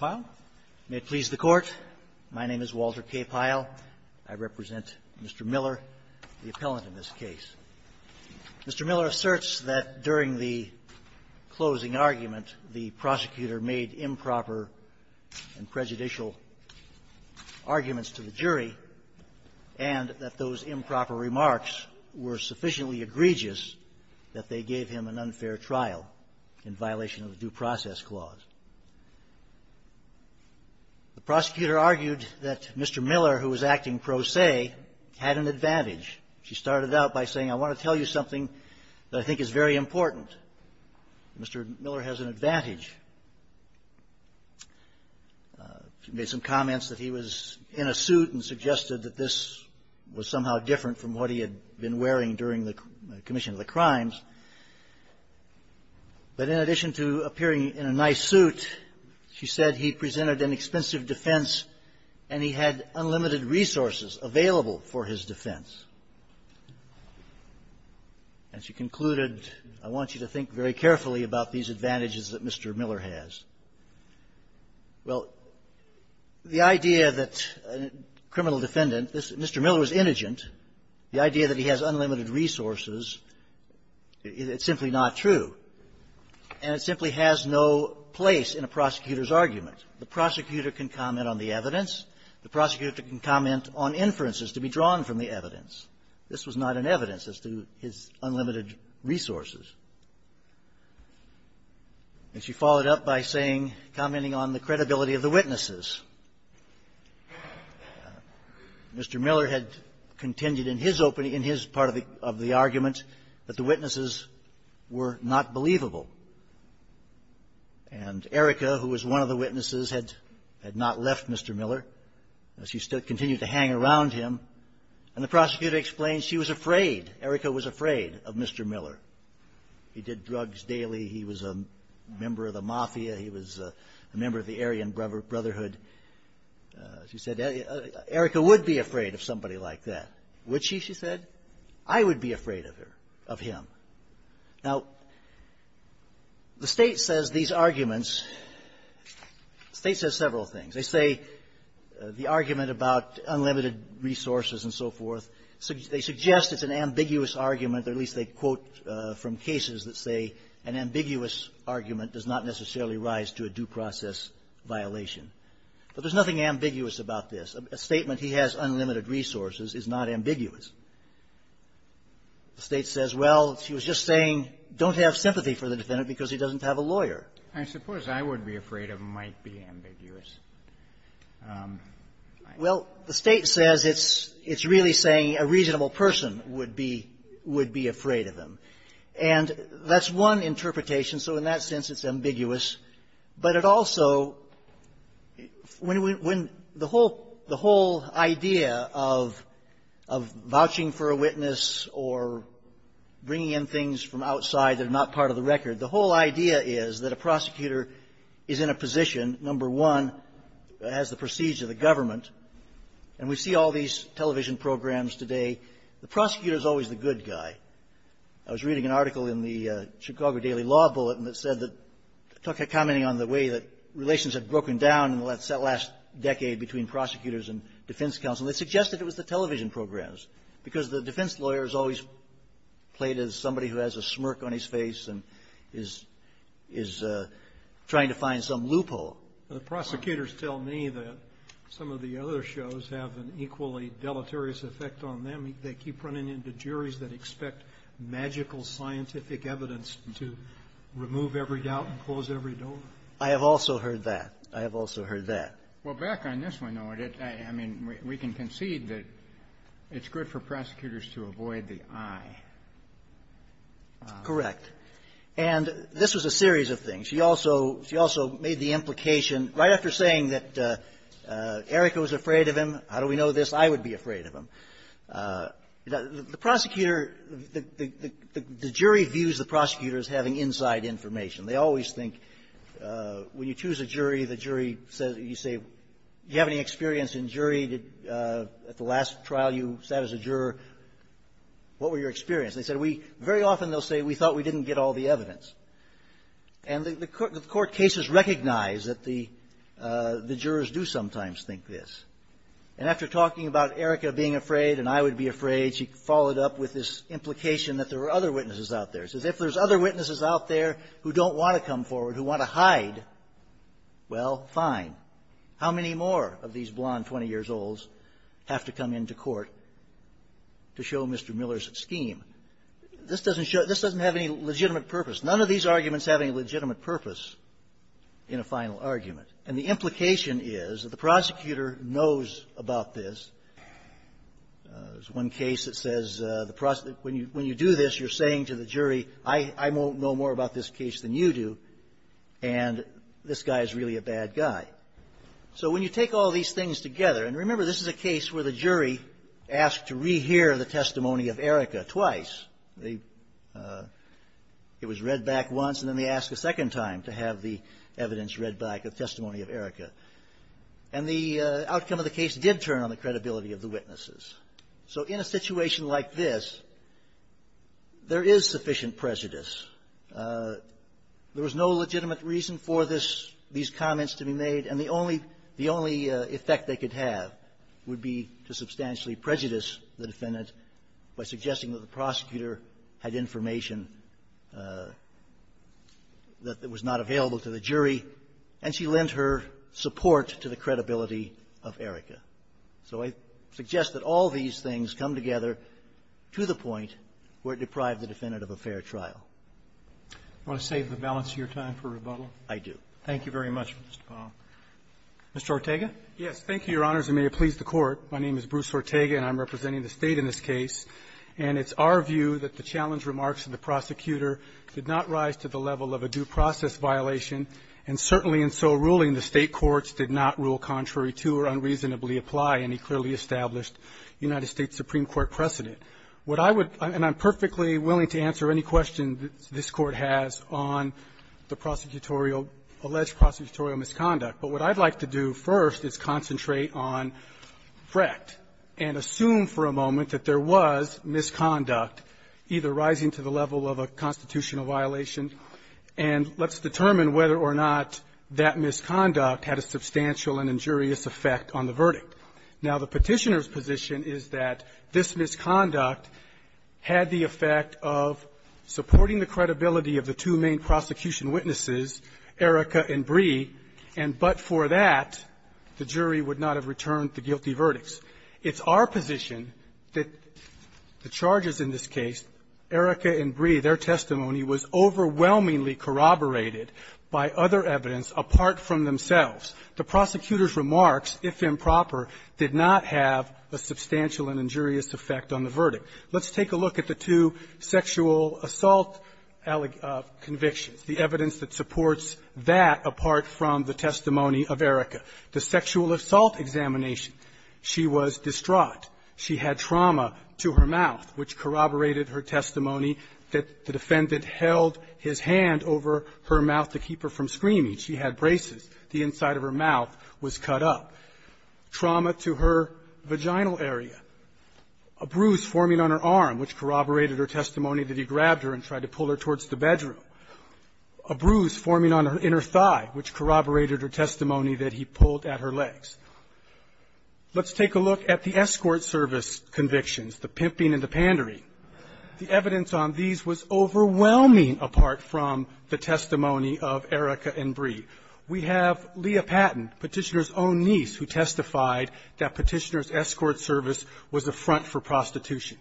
May it please the Court. My name is Walter K. Pyle. I represent Mr. Miller, the appellant in this case. Mr. Miller asserts that during the closing argument, the prosecutor made improper and prejudicial arguments to the jury, and that those improper remarks were sufficiently egregious that they gave him an unfair trial in violation of the Due Process Clause. The prosecutor argued that Mr. Miller, who was acting pro se, had an advantage. She started out by saying, I want to tell you something that I think is very important. Mr. Miller has an advantage. She made some comments that he was in a suit and suggested that this was somehow different from what he had been wearing during the commission of the crimes. But in addition to appearing in a nice suit, she said he presented an expensive defense and he had unlimited resources available for his defense. And she concluded, I want you to think very carefully about these advantages that Mr. Miller has. Well, the idea that a criminal defendant this Mr. Miller is indigent, the idea that he has unlimited resources, it's simply not true. And it simply has no place in a prosecutor's argument. The prosecutor can comment on the evidence. The prosecutor can comment on inferences to be drawn from the evidence. This was not an evidence as to his unlimited resources. And she followed up by saying, commenting on the credibility of the witnesses. Mr. Miller had contended in his opening, in his part of the argument, that the witnesses were not believable. And Erica, who was one of the witnesses, had not left Mr. Miller. She continued to hang around him. And the prosecutor explained she was afraid, Erica was afraid of Mr. Miller. He did drugs daily. He was a member of the mafia. He was a member of the Aryan Brotherhood. She said, Erica would be afraid of somebody like that. Would she, she said? I would be afraid of her, of him. Now, the State says these arguments, the State says several things. They say the argument about unlimited resources and so forth, they suggest it's an ambiguous argument, or at least, from cases that say an ambiguous argument does not necessarily rise to a due-process violation. But there's nothing ambiguous about this. A statement, he has unlimited resources, is not ambiguous. The State says, well, she was just saying, don't have sympathy for the defendant because he doesn't have a lawyer. I suppose I would be afraid of might be ambiguous. Well, the State says it's really saying a reasonable person would be afraid of him. And that's one interpretation. So in that sense, it's ambiguous. But it also, when we, when the whole, the whole idea of, of vouching for a witness or bringing in things from outside that are not part of the record, the whole idea is that a prosecutor is in a position, number one, that has the prestige of the government. And we see all these television programs today. The prosecutor is always the good guy. I was reading an article in the Chicago Daily Law Bulletin that said that, talking, commenting on the way that relations have broken down in the last, that last decade between prosecutors and defense counsel. They suggested it was the television programs because the defense lawyer is always played as somebody who has a smirk on his face and is, is trying to find some loophole. The prosecutors tell me that some of the other shows have an equally deleterious effect on them. They keep running into juries that expect magical scientific evidence to remove every doubt and close every door. I have also heard that. I have also heard that. Well, back on this one, though, I mean, we can concede that it's good for prosecutors to avoid the I. Correct. And this was a series of things. She also, she also made the implication right after saying that Erica was afraid of him. How do we know this? I would be afraid of him. The prosecutor, the jury views the prosecutors having inside information. They always think, when you choose a jury, the jury says, you say, do you have any experience in jury? Did, at the last trial you sat as a juror, what were your experience? They said, we, very often they'll say, we thought we didn't get all the evidence. And the court cases recognize that the jurors do sometimes think this. And after talking about Erica being afraid and I would be afraid, she followed up with this implication that there are other witnesses out there. She says, if there's other witnesses out there who don't want to come forward, who want to hide, well, fine. How many more of these blonde 20-years-olds have to come into court to show Mr. Miller's scheme? This doesn't show, this doesn't have any legitimate purpose. None of these arguments have any legitimate purpose in a final argument. And the implication is that the prosecutor knows about this. There's one case that says, when you do this, you're saying to the jury, I won't know more about this case than you do, and this guy is really a bad guy. So when you take all these things together, and remember, this is a case where the jury asked to rehear the testimony of Erica twice. They, it was read back once, and then they asked a second time to have the evidence read back, the testimony of Erica. And the outcome of the case did turn on the credibility of the witnesses. So in a situation like this, there is sufficient prejudice. There was no legitimate reason for this, these comments to be made, and the only effect they could have would be to substantially prejudice the defendant by suggesting that the prosecutor had information that was not available to the jury, and she lent her support to the credibility of Erica. So I suggest that all these things come together to the point where it deprived the defendant of a fair trial. Do you want to save the balance of your time for rebuttal? I do. Thank you very much, Mr. Powell. Mr. Ortega? Yes. Thank you, Your Honors, and may it please the Court. My name is Bruce Ortega, and I'm representing the State in this case. And it's our view that the challenge remarks of the prosecutor did not rise to the level of a constitutional process violation, and certainly in so ruling, the State courts did not rule contrary to or unreasonably apply any clearly established United States Supreme Court precedent. What I would – and I'm perfectly willing to answer any question this Court has on the prosecutorial – alleged prosecutorial misconduct. But what I'd like to do first is concentrate on Fret and assume for a moment that there was misconduct, either rising to the level of a constitutional violation and let's determine whether or not that misconduct had a substantial and injurious effect on the verdict. Now, the Petitioner's position is that this misconduct had the effect of supporting the credibility of the two main prosecution witnesses, Erika and Bree, and but for that, the jury would not have returned the guilty verdicts. It's our position that the charges in this case, Erika and Bree, their testimony was overwhelmingly corroborated by other evidence apart from themselves. The prosecutor's remarks, if improper, did not have a substantial and injurious effect on the verdict. Let's take a look at the two sexual assault convictions, the evidence that supports that apart from the testimony of Erika. The sexual assault examination, she was distraught. She had trauma to her mouth, which corroborated her testimony that the defendant held his hand over her mouth to keep her from screaming. She had braces. The inside of her mouth was cut up. Trauma to her vaginal area. A bruise forming on her arm, which corroborated her testimony that he grabbed her and tried to pull her towards the bedroom. A bruise forming on her inner thigh, which corroborated her testimony that he pulled at her legs. Let's take a look at the escort service convictions, the pimping and the pandering. The evidence on these was overwhelming apart from the testimony of Erika and Bree. We have Leah Patton, Petitioner's own niece, who testified that Petitioner's escort service was a front for prostitution.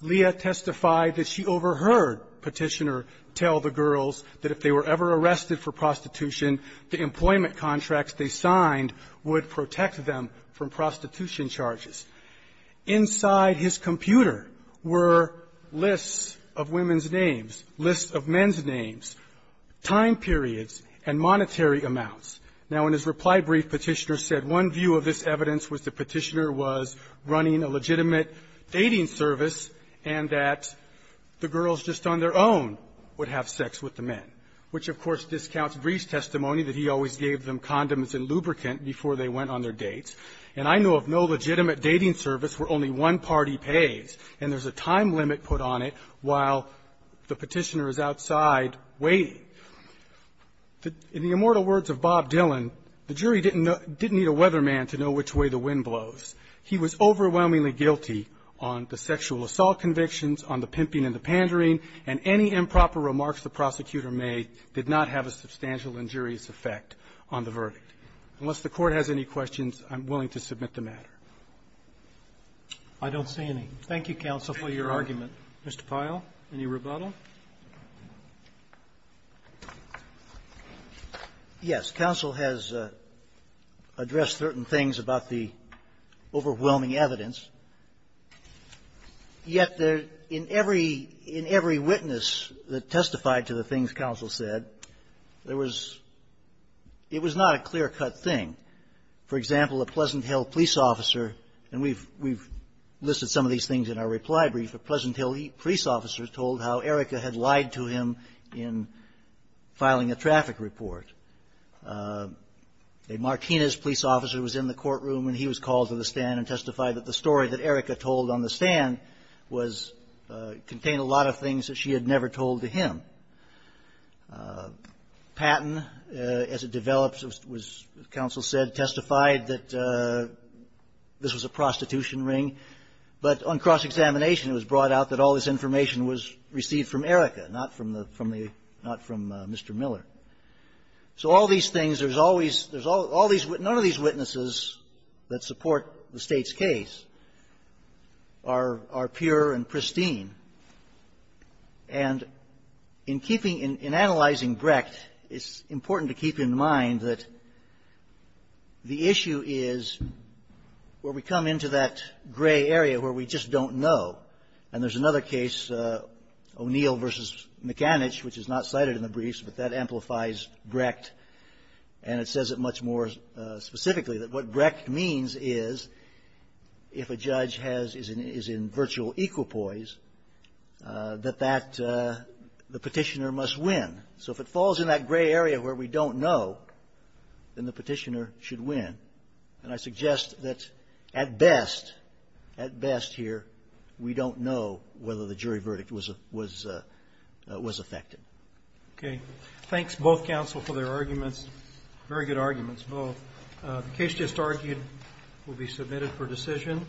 Leah testified that she overheard Petitioner tell the girls that if they were ever arrested for prostitution, the employment contracts they signed would protect them from prostitution charges. Inside his computer were lists of women's names, lists of men's names, time periods, and monetary amounts. Now, in his reply brief, Petitioner said one view of this evidence was that Petitioner was running a legitimate dating service and that the girls just on their own would have sex with the men, which, of course, discounts Bree's testimony that he always gave them condoms and lubricant before they went on their dates. And I know of no legitimate dating service where only one party pays, and there's a time limit put on it while the Petitioner is outside waiting. In the immortal words of Bob Dylan, the jury didn't need a weatherman to know which way the wind blows. He was overwhelmingly guilty on the sexual assault convictions, on the pimping and the pandering, and any improper remarks the prosecutor made did not have a substantial injurious effect. On the verdict. Unless the Court has any questions, I'm willing to submit the matter. Roberts. I don't see any. Thank you, counsel, for your argument. Mr. Pyle, any rebuttal? Pyle. Yes. Counsel has addressed certain things about the overwhelming evidence. Yet there — in every — in every witness that testified to the things counsel said, there was — it was not a clear-cut thing. For example, a Pleasant Hill police officer — and we've — we've listed some of these things in our reply brief. A Pleasant Hill police officer told how Erica had lied to him in filing a traffic report. A Martinez police officer was in the courtroom when he was called to the stand and testified that the story that Erica told on the stand was — contained a lot of things that she had never told to him. Patton, as it develops, was — as counsel said, testified that this was a prostitution ring. But on cross-examination, it was brought out that all this information was received from Erica, not from the — from the — not from Mr. Miller. So all these things, there's always — there's all — all these — none of these things. And in keeping — in analyzing Brecht, it's important to keep in mind that the issue is where we come into that gray area where we just don't know. And there's another case, O'Neill v. McAnich, which is not cited in the briefs, but that amplifies Brecht. And it says it much more specifically, that what Brecht means is, if a judge has — is in virtual equipoise, that that — the petitioner must win. So if it falls in that gray area where we don't know, then the petitioner should win. And I suggest that, at best — at best here, we don't know whether the jury verdict was — was — was effective. Okay. Thanks, both counsel, for their arguments. Very good arguments, both. The case just argued will be submitted for decision.